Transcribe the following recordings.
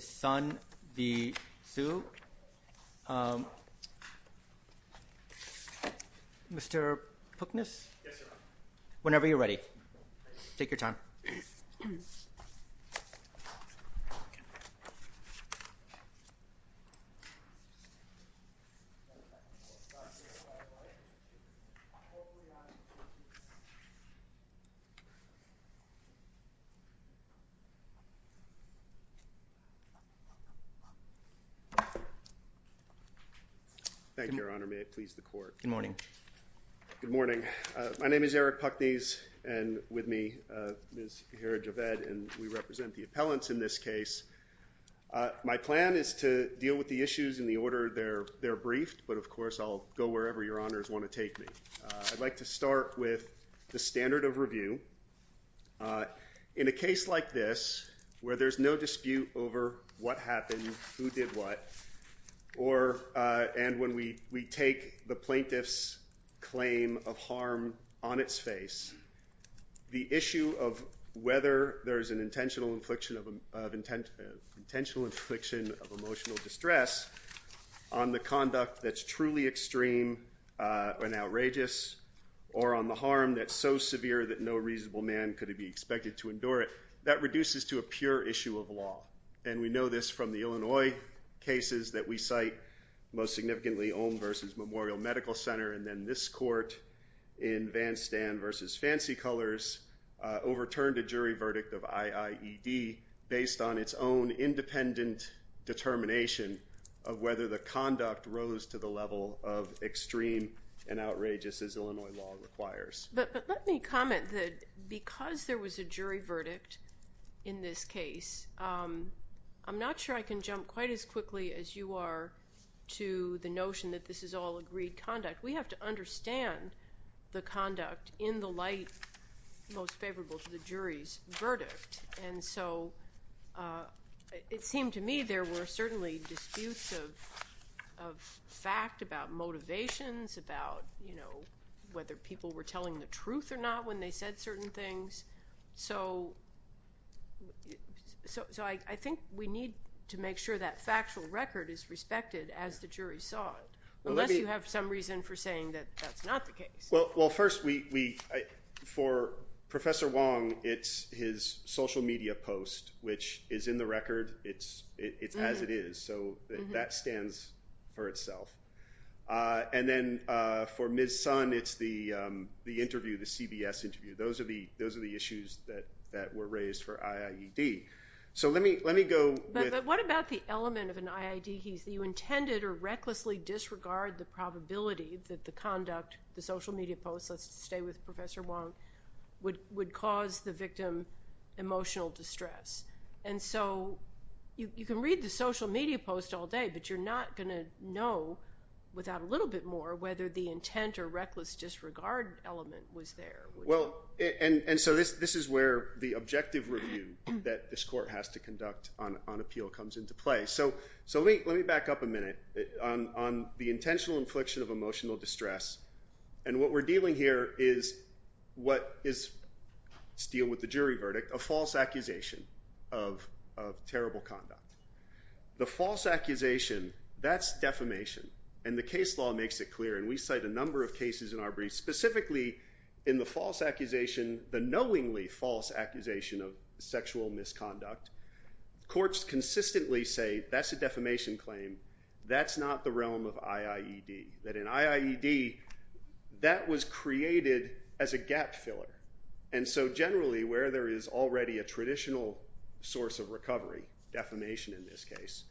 Sun v. Xu. Mr. Puknas? Whenever you're ready. Take your time. Thank you, Your Honor. May it please the Court. Good morning. Good morning. My name is Eric Puknes and with me is Herod Javed and we represent the appellants in this case. My plan is to deal with the issues in the order they're briefed, but of course I'll go wherever Your Honors want to take me. I'd like to start with the standard of review. In a case like this, where there's no dispute over what happened, who did what, and when we take the plaintiff's claim of harm on its face, the issue of whether there's an intentional infliction of emotional distress on the conduct that's truly extreme and outrageous or on the harm that's so severe that no reasonable man could be expected to endure it, that reduces to a pure issue of law. And we know this from the Illinois cases that we cite, most significantly Olm v. Memorial Medical Center and then this court in Van Stan v. Fancy Colors overturned a jury verdict of IIED based on its own independent determination of whether the conduct rose to the level of extreme and outrageous as Illinois law requires. But let me comment that because there was a jury verdict in this case, I'm not sure I can jump quite as quickly as you are to the notion that this is all agreed conduct. We have to understand the conduct in the light most favorable to the jury's verdict. And I think there's a lot of debate and a lot of disputes of fact, about motivations, about whether people were telling the truth or not when they said certain things. So I think we need to make sure that factual record is respected as the jury saw it, unless you have some reason for saying that that's not the case. Well, first, for Professor Wong, it's his social media post, which is in the record. It's as it is. So that stands for itself. And then for Ms. Sun, it's the interview, the CBS interview. Those are the issues that were raised for IIED. So let me go with... What about the element of an IIED case that you intended or recklessly disregard the probability that the conduct, the social media post, let's stay with Professor Wong, would cause the You can read the social media post all day, but you're not going to know without a little bit more whether the intent or reckless disregard element was there. And so this is where the objective review that this court has to conduct on appeal comes into play. So let me back up a minute on the intentional infliction of emotional distress. And what we're dealing here is what is, let's deal with the jury verdict, a false accusation of terrible conduct. The false accusation, that's defamation. And the case law makes it clear. And we cite a number of cases in our briefs, specifically in the false accusation, the knowingly false accusation of sexual misconduct. Courts consistently say that's a defamation claim. That's not the realm of IIED. That in IIED, that was created as a gap filler. And so generally, where there is already a traditional source of recovery, defamation in this case,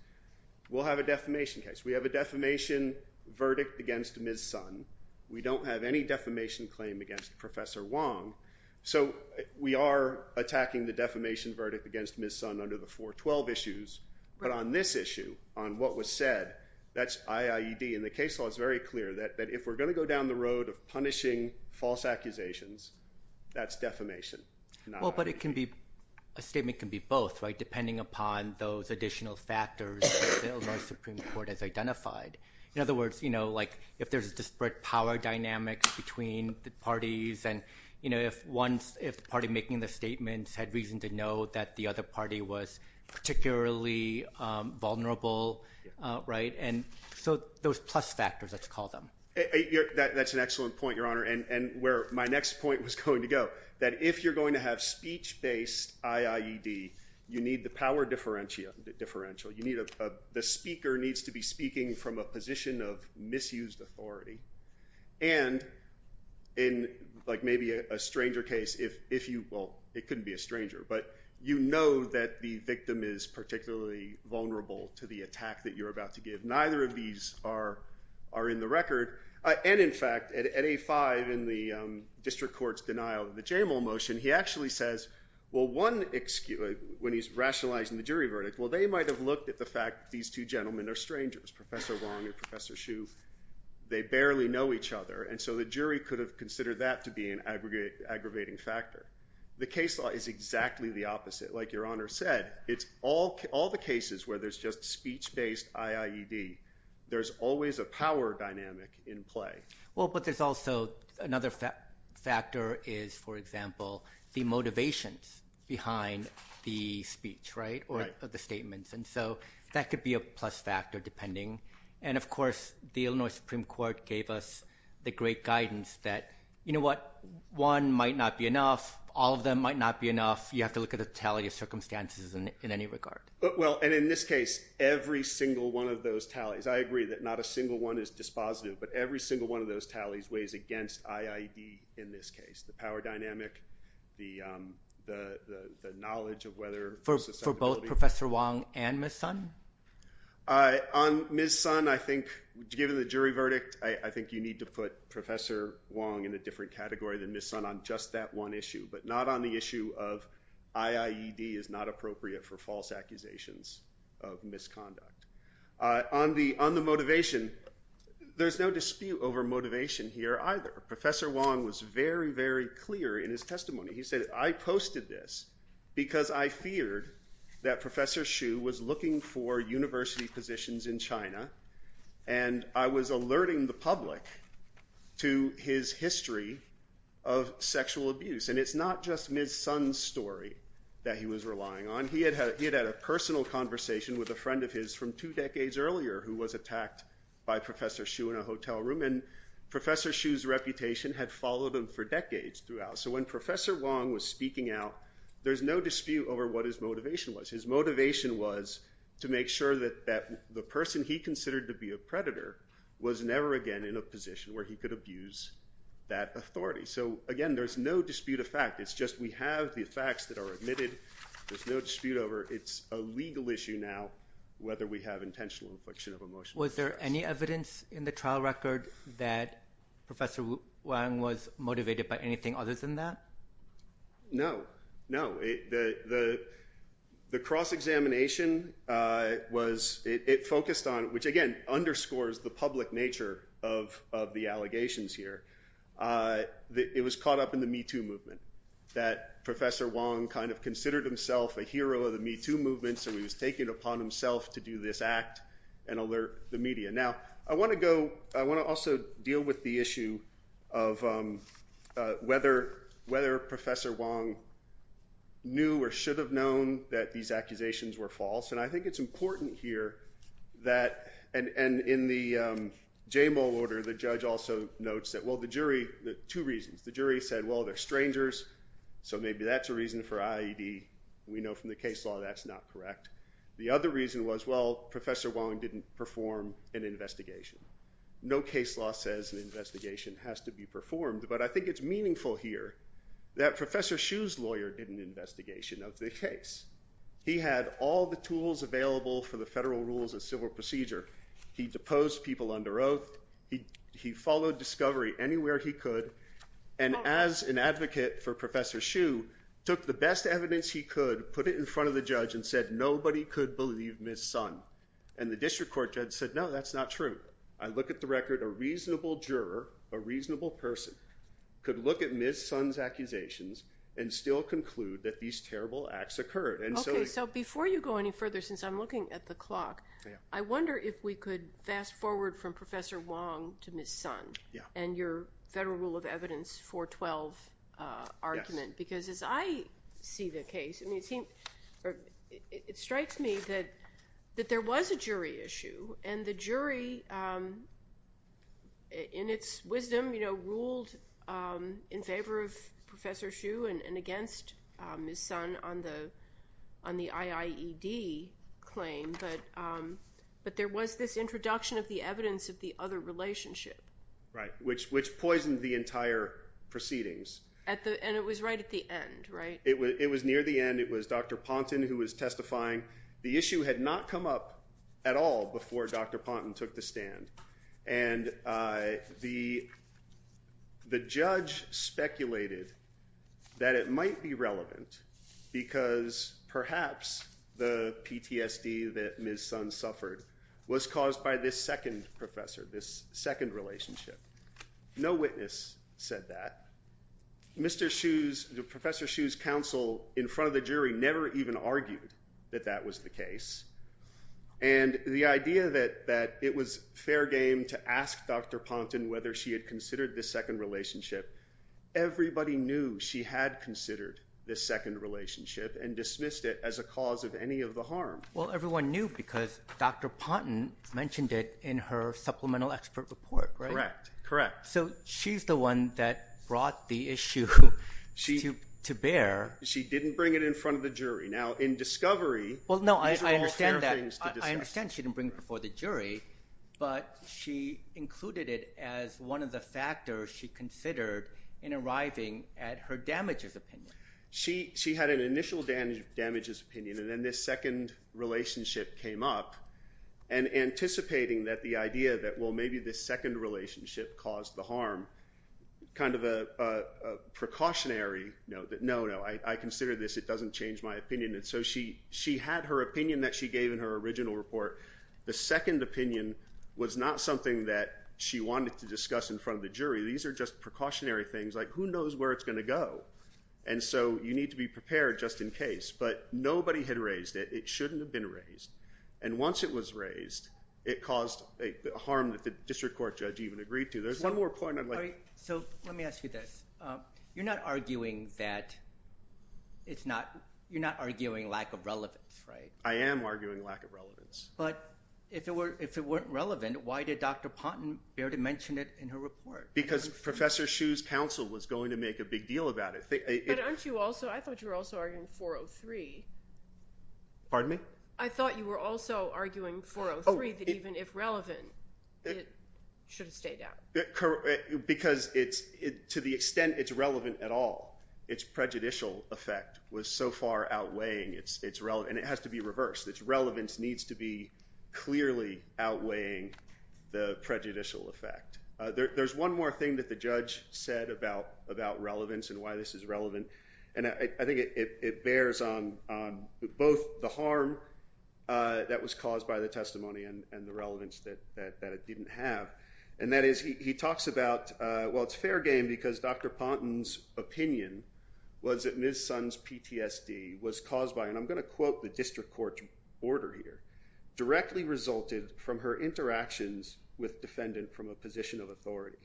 we'll have a defamation case. We have a defamation verdict against Ms. Sun. We don't have any defamation claim against Professor Wong. So we are attacking the defamation verdict against Ms. Sun under the 412 issues. But on this issue, on what was said, that's IIED. And the case law is very clear that if we're going to go down the road of punishing false accusations, that's defamation, not accusation. Well, but it can be, a statement can be both, right? Depending upon those additional factors that the Illinois Supreme Court has identified. In other words, you know, like if there's a disparate power dynamics between the parties and, you know, if one's, if the party making the statements had reason to know that the other party was particularly vulnerable, right? And so those plus factors, let's call them. That's an excellent point, Your Honor. And where my next point was going to go, that if you're going to have speech-based IIED, you need the power differential. You need a, the speaker needs to be speaking from a position of misused authority. And in like maybe a stranger case, if you, well, it couldn't be a stranger, but you know that the victim is particularly vulnerable to the attack that you're about to give. Neither of these are in the record. And in fact, at 8-5 in the district court's denial of the Jamal motion, he actually says, well, one, when he's rationalizing the jury verdict, well, they might have looked at the fact that these two gentlemen are strangers, Professor Wong and Professor Hsu. They barely know each other. And so the jury could have considered that to be an aggravating factor. The case law is exactly the opposite. Like Your Honor said, it's all the cases where there's just speech-based IIED. There's always a power dynamic in play. Well, but there's also another factor is, for example, the motivations behind the speech, right? Or the statements. And so that could be a plus factor depending. And of course, the Illinois Supreme Court gave us the great guidance that, you know what, one might not be enough. All of them might not be enough. You have to look at the totality of circumstances in any regard. But, well, and in this case, every single one of those tallies, I agree that not a single one is dispositive. But every single one of those tallies weighs against IIED in this case. The power dynamic, the knowledge of whether For both Professor Wong and Ms. Sun? On Ms. Sun, I think, given the jury verdict, I think you need to put Professor Wong in a different category than Ms. Sun on just that one issue. But not on the issue of IIED is not appropriate for false accusations of misconduct. On the motivation, there's no dispute over motivation here either. Professor Wong was very, very clear in his testimony. He said, I posted this because I feared that Professor Hsu was looking for university positions in China. And I was alerting the public to his relying on. He had had a personal conversation with a friend of his from two decades earlier who was attacked by Professor Hsu in a hotel room. And Professor Hsu's reputation had followed him for decades throughout. So when Professor Wong was speaking out, there's no dispute over what his motivation was. His motivation was to make sure that the person he considered to be a predator was never again in a position where he could abuse that authority. So again, there's no dispute of fact. It's just we have the facts that are admitted. There's no dispute over it's a legal issue now, whether we have intentional infliction of emotional distress. Was there any evidence in the trial record that Professor Wong was motivated by anything other than that? No. No. The cross-examination was, it focused on, which again, underscores the public nature of the allegations here. It was caught up in the Me Too movement that Professor Wong kind of considered himself a hero of the Me Too movement. So he was taking it upon himself to do this act and alert the media. Now, I want to go, I want to also deal with the issue of whether Professor Wong knew or should have known that these accusations were false. And I think it's important here that, and in the Jamal order, the judge also notes that, well, the jury, the two reasons, the jury said, well, they're strangers. So maybe that's a reason for IED. We know from the case law that's not correct. The other reason was, well, Professor Wong didn't perform an investigation. No case law says an investigation has to be performed, but I think it's meaningful here that Professor Hsu's lawyer did an investigation of the case. He had all the tools available for the federal rules of civil procedure. He deposed people under oath. He followed discovery anywhere he could. And as an advocate for Professor Hsu, took the best evidence he could, put it in front of the judge and said, nobody could believe Ms. Sun. And the district court judge said, no, that's not true. I look at the record, a reasonable juror, a reasonable person could look at Ms. Sun's accusations and still conclude that these terrible acts occurred. Okay, so before you go any further, since I'm looking at the clock, I wonder if we could fast forward from Professor Wong to Ms. Sun and your federal rule of evidence 412 argument. Because as I see the case, it strikes me that there was a jury issue and the jury in its wisdom ruled in favor of Professor Hsu and against Ms. Sun on the IIED claim, but there was this introduction of the evidence of the other relationship. Right, which poisoned the entire proceedings. And it was right at the end, right? It was near the end. It was Dr. Ponton who was testifying. The issue had not come up at all before Dr. Ponton took the stand. And the judge speculated that it might be relevant because perhaps the PTSD that Ms. Sun suffered was caused by this second professor, this second relationship. No witness said that. Professor Hsu's counsel in front of the jury never even argued that that was the case. And the idea that it was fair game to ask Dr. Ponton whether she had considered this second relationship, everybody knew she had considered this second relationship and dismissed it as a cause of any of the harm. Well, everyone knew because Dr. Ponton mentioned it in her expert report, right? Correct, correct. So she's the one that brought the issue to bear. She didn't bring it in front of the jury. Now in discovery... Well, no, I understand that. I understand she didn't bring it before the jury, but she included it as one of the factors she considered in arriving at her damages opinion. She had an initial damages opinion and then this second relationship came up and anticipating that the idea that, well, maybe this second relationship caused the harm, kind of a precautionary note that, no, no, I consider this, it doesn't change my opinion. And so she had her opinion that she gave in her original report. The second opinion was not something that she wanted to discuss in front of the jury. These are just precautionary things, like who knows where it's going to go. And so you need to be prepared just in case, but nobody had it. It shouldn't have been raised. And once it was raised, it caused a harm that the district court judge even agreed to. There's one more point. So let me ask you this. You're not arguing that you're not arguing lack of relevance, right? I am arguing lack of relevance. But if it weren't relevant, why did Dr. Ponton bear to mention it in her report? Because Professor Hsu's counsel was going to make a big deal about it. But aren't you also, I thought you were also arguing 403. Pardon me? I thought you were also arguing 403, that even if relevant, it should have stayed out. Because to the extent it's relevant at all, its prejudicial effect was so far outweighing its relevance. And it has to be reversed. Its relevance needs to be clearly outweighing the prejudicial effect. There's one more thing that the judge said about relevance and why this is the harm that was caused by the testimony and the relevance that it didn't have. And that is, he talks about, well, it's fair game because Dr. Ponton's opinion was that Ms. Sun's PTSD was caused by, and I'm going to quote the district court's order here, directly resulted from her interactions with defendant from a position of authority.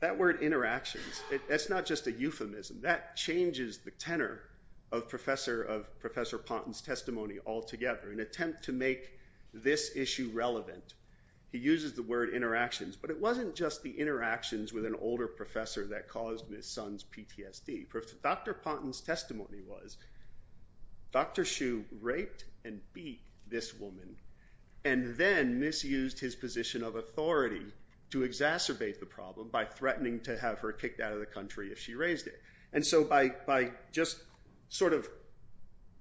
That word interactions, that's not a euphemism. That changes the tenor of Professor Ponton's testimony altogether. In an attempt to make this issue relevant, he uses the word interactions. But it wasn't just the interactions with an older professor that caused Ms. Sun's PTSD. Dr. Ponton's testimony was Dr. Hsu raped and beat this woman and then misused his position of authority to exacerbate the problem by threatening to have her kicked out of the country if she raised it. And so by just sort of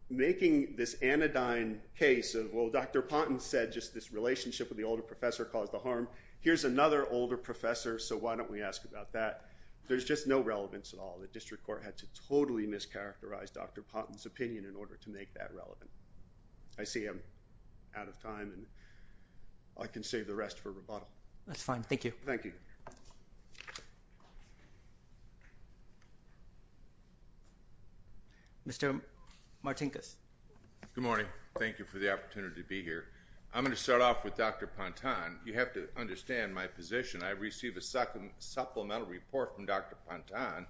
making this anodyne case of, well, Dr. Ponton said just this relationship with the older professor caused the harm. Here's another older professor, so why don't we ask about that? There's just no relevance at all. The district court had to totally mischaracterize Dr. Ponton's opinion in order to make that relevant. I see I'm out of time and I can save the rest for rebuttal. That's fine. Thank you. Thank you. Mr. Martinkus. Good morning. Thank you for the opportunity to be here. I'm going to start off with Dr. Ponton. You have to understand my position. I received a supplemental report from Dr. Ponton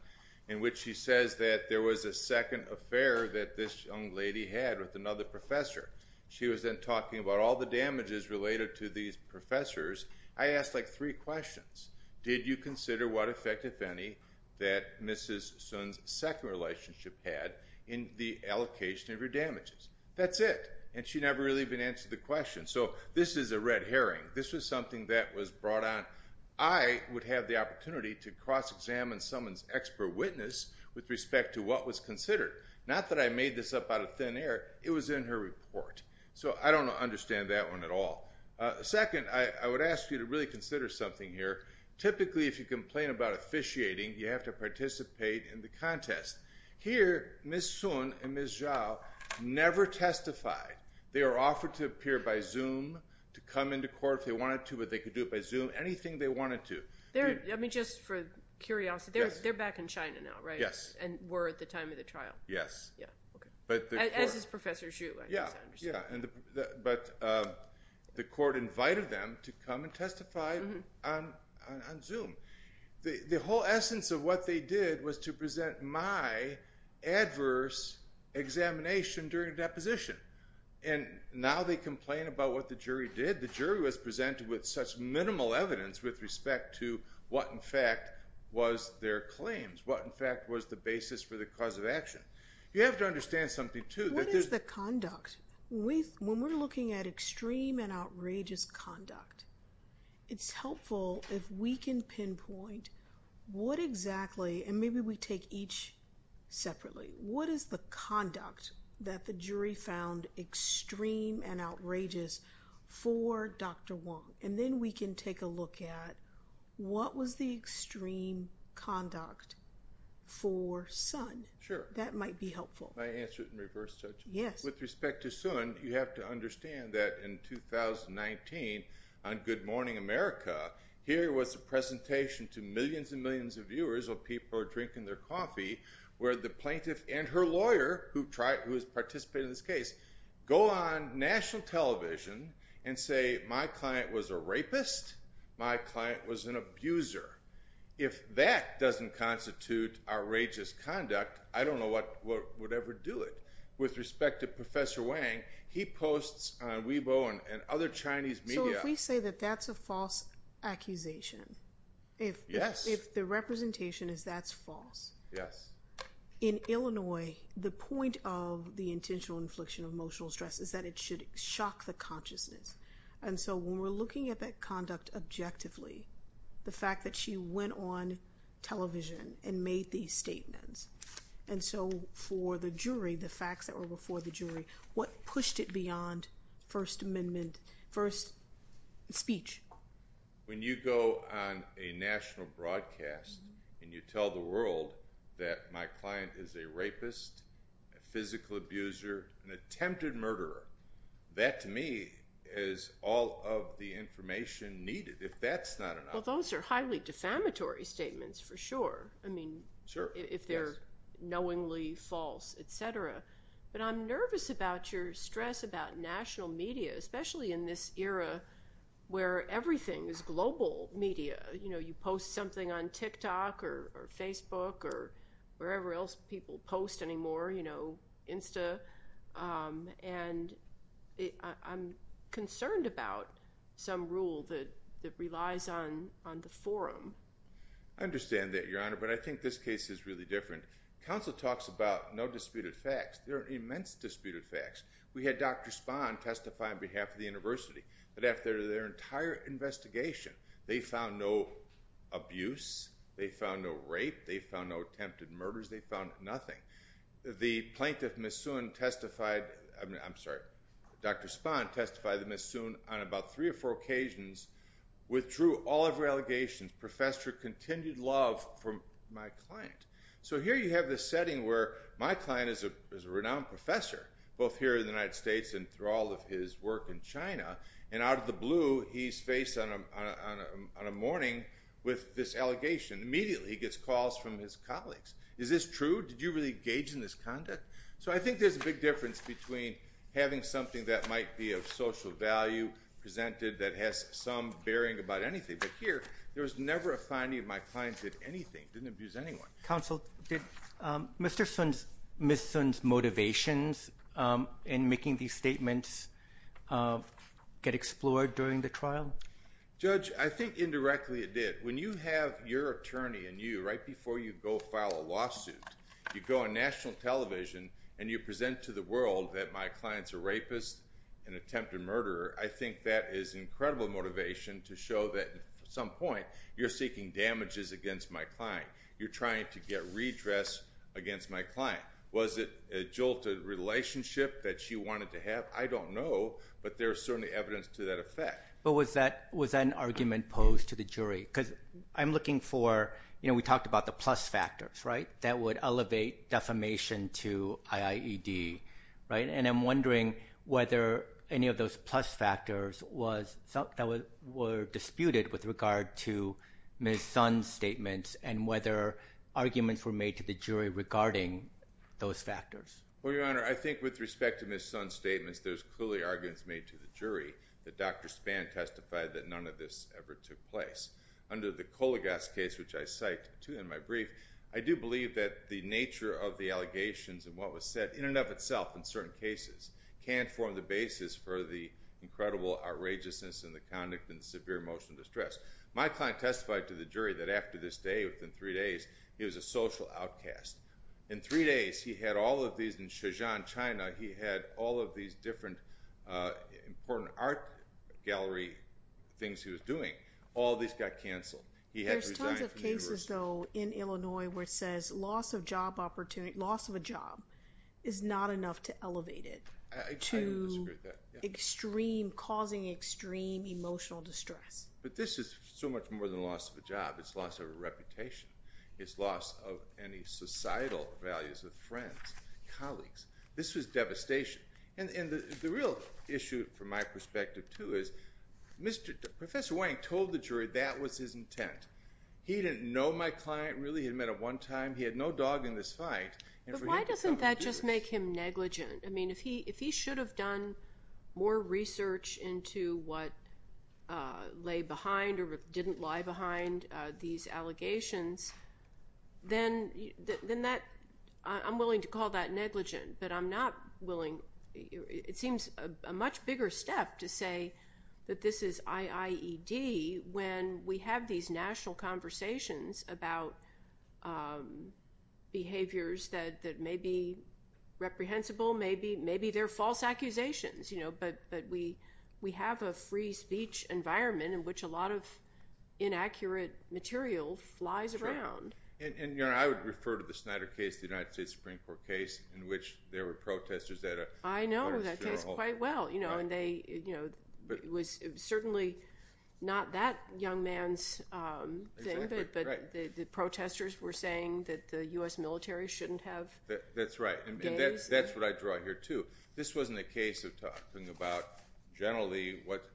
in which she says that there was a second affair that this young lady had with another professor. She was then talking about all the damages related to these professors I asked like three questions. Did you consider what effect, if any, that Mrs. Sun's second relationship had in the allocation of her damages? That's it. And she never really been answered the question. So this is a red herring. This was something that was brought on. I would have the opportunity to cross-examine someone's expert witness with respect to what was considered. Not that I made this up out of thin air. It was in her report. So I don't understand that one at all. Second, I would ask you to really consider something here. Typically, if you complain about officiating, you have to participate in the contest. Here, Ms. Sun and Ms. Zhao never testify. They are offered to appear by Zoom to come into court if they wanted to, but they could do it by Zoom. Anything they wanted to. Let me just, for curiosity, they're back in China now, right? Yes. And were at the time of the trial. Yes. As is Professor Xu, I guess I understand. Yeah. But the court invited them to come and testify on Zoom. The whole essence of what they did was to present my adverse examination during deposition. And now they complain about what the jury did. The jury was presented with such minimal evidence with respect to what, in fact, was their claims. What, in fact, was the basis for the cause of action. You have to understand something too. What is the conduct? When we're looking at extreme and outrageous conduct, it's helpful if we can pinpoint what exactly, and maybe we take each separately, what is the conduct that the jury found extreme and outrageous for Dr. Wang? And then we can take a look at what was the extreme conduct for Sun. Sure. That might be helpful. Can I answer it in reverse touch? Yes. With respect to Sun, you have to understand that in 2019 on Good Morning America, here was a presentation to millions and millions of viewers of people drinking their coffee, where the plaintiff and her lawyer who tried, who has and say, my client was a rapist, my client was an abuser. If that doesn't constitute outrageous conduct, I don't know what would ever do it. With respect to Professor Wang, he posts on Weibo and other Chinese media. So if we say that that's a false accusation, if the representation is that's false, in Illinois, the point of the intentional infliction of emotional stress is that it should shock the consciousness. And so when we're looking at that conduct objectively, the fact that she went on television and made these statements, and so for the jury, the facts that were before the jury, what pushed it beyond First Amendment, first speech? When you go on a national broadcast, and you tell the world that my client is a rapist, a physical abuser, an attempted murderer, that to me, is all of the information needed. If that's not enough. Well, those are highly defamatory statements, for sure. I mean, sure, if they're knowingly false, etc. But I'm nervous about your stress about national media, especially in this era, where everything is global media, you know, you post something on TikTok, or Facebook, or wherever else people post anymore, you know, Insta. And I'm concerned about some rule that relies on the forum. I understand that, Your Honor, but I think this case is really different. Counsel talks about no disputed facts, there are immense disputed facts. We had Dr. Spahn testify on behalf of the university, but after their entire investigation, they found no abuse, they found no rape, they found no attempted murders, they found nothing. The plaintiff, Ms. Soon, testified, I'm sorry, Dr. Spahn testified that Ms. Soon, on about three or four occasions, withdrew all of her allegations, professed her continued love for my client. So here you have the setting where my client is a renowned professor, both here in the United States and through all of his work in China. And out of the blue, he's faced on a morning with this allegation. Immediately, he gets calls from his colleagues. Is this true? Did you really engage in this conduct? So I think there's a big difference between having something that might be of social value presented that has some bearing about anything. But here, there was never a finding of my client did anything, didn't abuse anyone. Counsel, did Mr. Soon's, Ms. Soon's motivations in making these statements get explored during the trial? Judge, I think indirectly, it did. When you have your attorney and you right before you go file a lawsuit, you go on national television, and you present to the world that my client's a rapist, an attempted murderer. I think that is incredible motivation to show that at some point, you're seeking damages against my client. You're trying to get redress against my client. Was it a jolted relationship that she wanted to have? I don't know. But there's certainly evidence to that because I'm looking for, you know, we talked about the plus factors, right? That would elevate defamation to IAED, right? And I'm wondering whether any of those plus factors were disputed with regard to Ms. Soon's statements and whether arguments were made to the jury regarding those factors. Well, Your Honor, I think with respect to Ms. Soon's statements, there's clearly arguments made to the jury that Dr. Spann testified that none of this ever took place. Under the Kolagos case, which I cite too in my brief, I do believe that the nature of the allegations and what was said, in and of itself, in certain cases, can form the basis for the incredible outrageousness and the conduct and severe emotional distress. My client testified to the jury that after this day, within three days, he was a social outcast. In three days, he had all of these in Shenzhen, China, he had all of these different important art gallery things he was doing. All of these got canceled. He had to resign. There's tons of cases, though, in Illinois where it says loss of job opportunity, loss of a job is not enough to elevate it to extreme, causing extreme emotional distress. But this is so much more than loss of a job. It's loss of a reputation. It's loss of any societal values of friends, colleagues. This was devastation. The real issue, from my perspective, too, is Professor Wang told the jury that was his intent. He didn't know my client, really. He had met him one time. He had no dog in this fight. But why doesn't that just make him negligent? I mean, if he should have done more research into what lay behind or didn't lie behind these allegations, then I'm willing to call that negligent. But I'm not willing, it seems a much bigger step to say that this is IIED when we have these national conversations about behaviors that may be reprehensible, maybe they're false accusations. But we have a free environment in which a lot of inaccurate material flies around. Sure. And I would refer to the Snyder case, the United States Supreme Court case, in which there were protesters at a- I know that case quite well. It was certainly not that young man's thing, but the protesters were saying that the U.S. military shouldn't have- That's right. And that's what I draw here, too. This wasn't a case of talking about, generally, what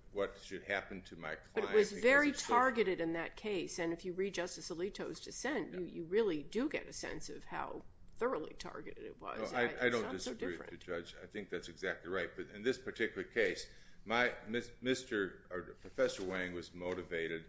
should happen to my client- But it was very targeted in that case. And if you read Justice Alito's dissent, you really do get a sense of how thoroughly targeted it was. It's not so different. I don't disagree with the judge. I think that's exactly right. But in this particular case, Professor Wang was motivated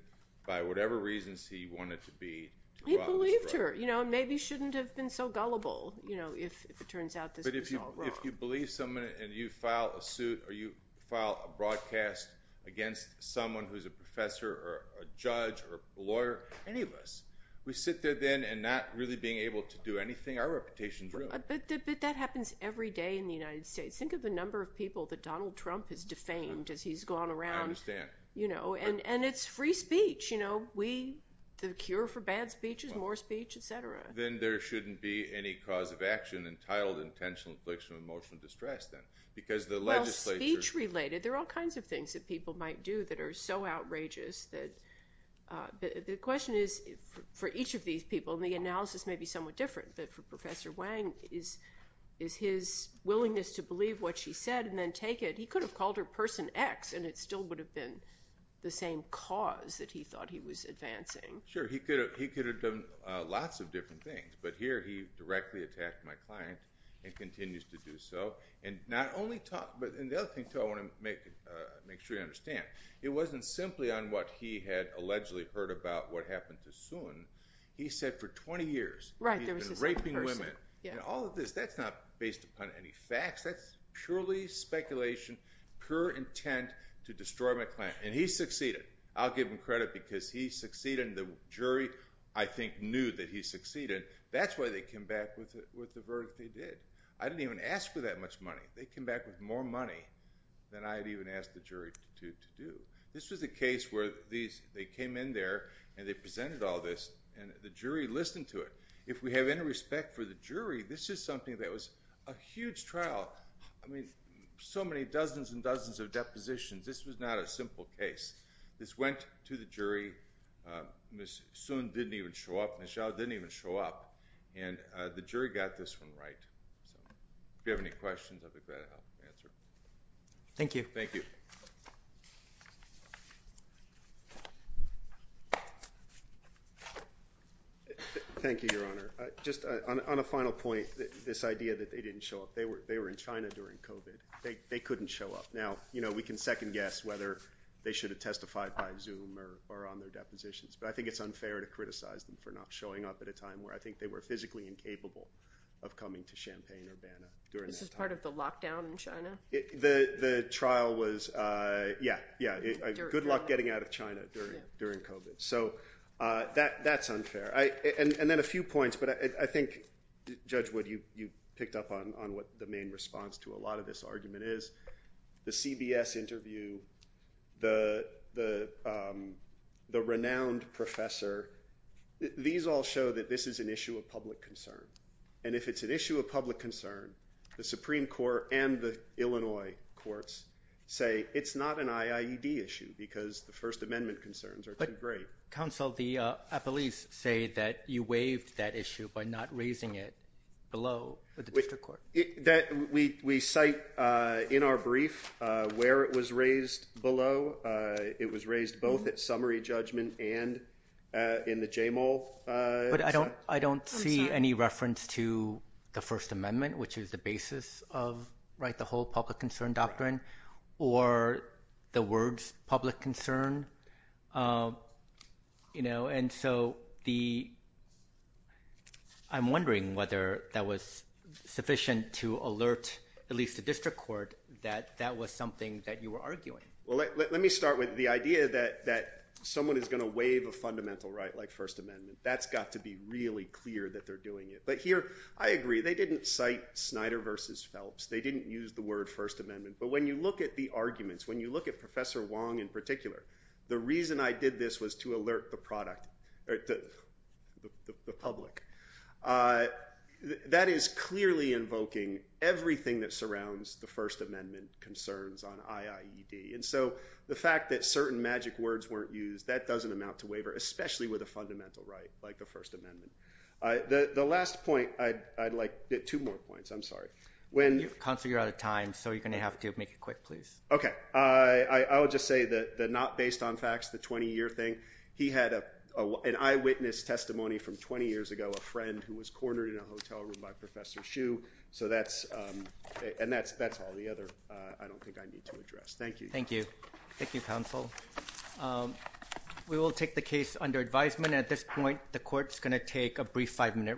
by whatever reasons he wanted to be- He believed her. Maybe he shouldn't have been so gullible if it turns out this was all wrong. You believe someone and you file a suit or you file a broadcast against someone who's a professor or a judge or a lawyer, any of us. We sit there then and not really being able to do anything. Our reputation's ruined. But that happens every day in the United States. Think of the number of people that Donald Trump has defamed as he's gone around. I understand. And it's free speech. The cure for bad speech is more speech, et cetera. Then there shouldn't be any cause of action entitled intentional infliction of emotional distress then. Because the legislature- Well, speech related, there are all kinds of things that people might do that are so outrageous. The question is for each of these people, and the analysis may be somewhat different, that for Professor Wang is his willingness to believe what she said and then take it. He could have called her person X and it still would have been the same cause that he thought he was advancing. Sure. He could have done lots of different things, but here he directly attacked my client and continues to do so. And the other thing too I want to make sure you understand, it wasn't simply on what he had allegedly heard about what happened to Sun. He said for 20 years- Right, there was this other person.... he's been raping women. All of this, that's not based upon any facts. That's purely speculation, pure intent to destroy my client. And he succeeded. I'll give him credit because he jury, I think, knew that he succeeded. That's why they came back with the verdict they did. I didn't even ask for that much money. They came back with more money than I had even asked the jury to do. This was a case where they came in there and they presented all this and the jury listened to it. If we have any respect for the jury, this is something that was a huge trial. So many dozens and dozens of depositions. This was not a simple case. This went to the jury. Ms. Sun didn't even show up. Ms. Zhao didn't even show up. And the jury got this one right. If you have any questions, I'll be glad to help answer. Thank you. Thank you. Thank you, Your Honor. Just on a final point, this idea that they didn't show up. They were in China during COVID. They couldn't show up. Now, we can second guess whether they should have testified by Zoom or on their depositions. But I think it's unfair to criticize them for not showing up at a time where I think they were physically incapable of coming to Champaign-Urbana. This is part of the lockdown in China? The trial was, yeah, good luck getting out of China during COVID. So that's unfair. And then a few points, but I think, Judge Wood, you picked up on what the main response to a lot of this was the renowned professor. These all show that this is an issue of public concern. And if it's an issue of public concern, the Supreme Court and the Illinois courts say it's not an IIED issue because the First Amendment concerns are too great. Counsel, the appellees say that you waived that issue by not raising it below the district court. We cite in our brief where it was raised below. It was raised both at summary judgment and in the J-Mall. But I don't see any reference to the First Amendment, which is the basis of the whole public concern doctrine, or the words public concern. And so I'm wondering whether that was sufficient to alert at least the district court that that was something that you were arguing. Well, let me start with the idea that someone is going to waive a fundamental right like First Amendment. That's got to be really clear that they're doing it. But here, I agree. They didn't cite Snyder versus Phelps. They didn't use the word First Amendment. But when you look at the Professor Wong in particular, the reason I did this was to alert the public. That is clearly invoking everything that surrounds the First Amendment concerns on IIED. And so the fact that certain magic words weren't used, that doesn't amount to waiver, especially with a fundamental right like the First Amendment. The last point, I'd like two more points. I'm sorry. Counsel, you're out of time. So you're going to have to make it quick, please. Okay. I would just say that not based on facts, the 20-year thing, he had an eyewitness testimony from 20 years ago, a friend who was cornered in a hotel room by Professor Hsu. And that's all the other I don't think I need to address. Thank you. Thank you. Thank you, counsel. We will take the case under advisement. At this point, the court's going to take a brief five-minute recess.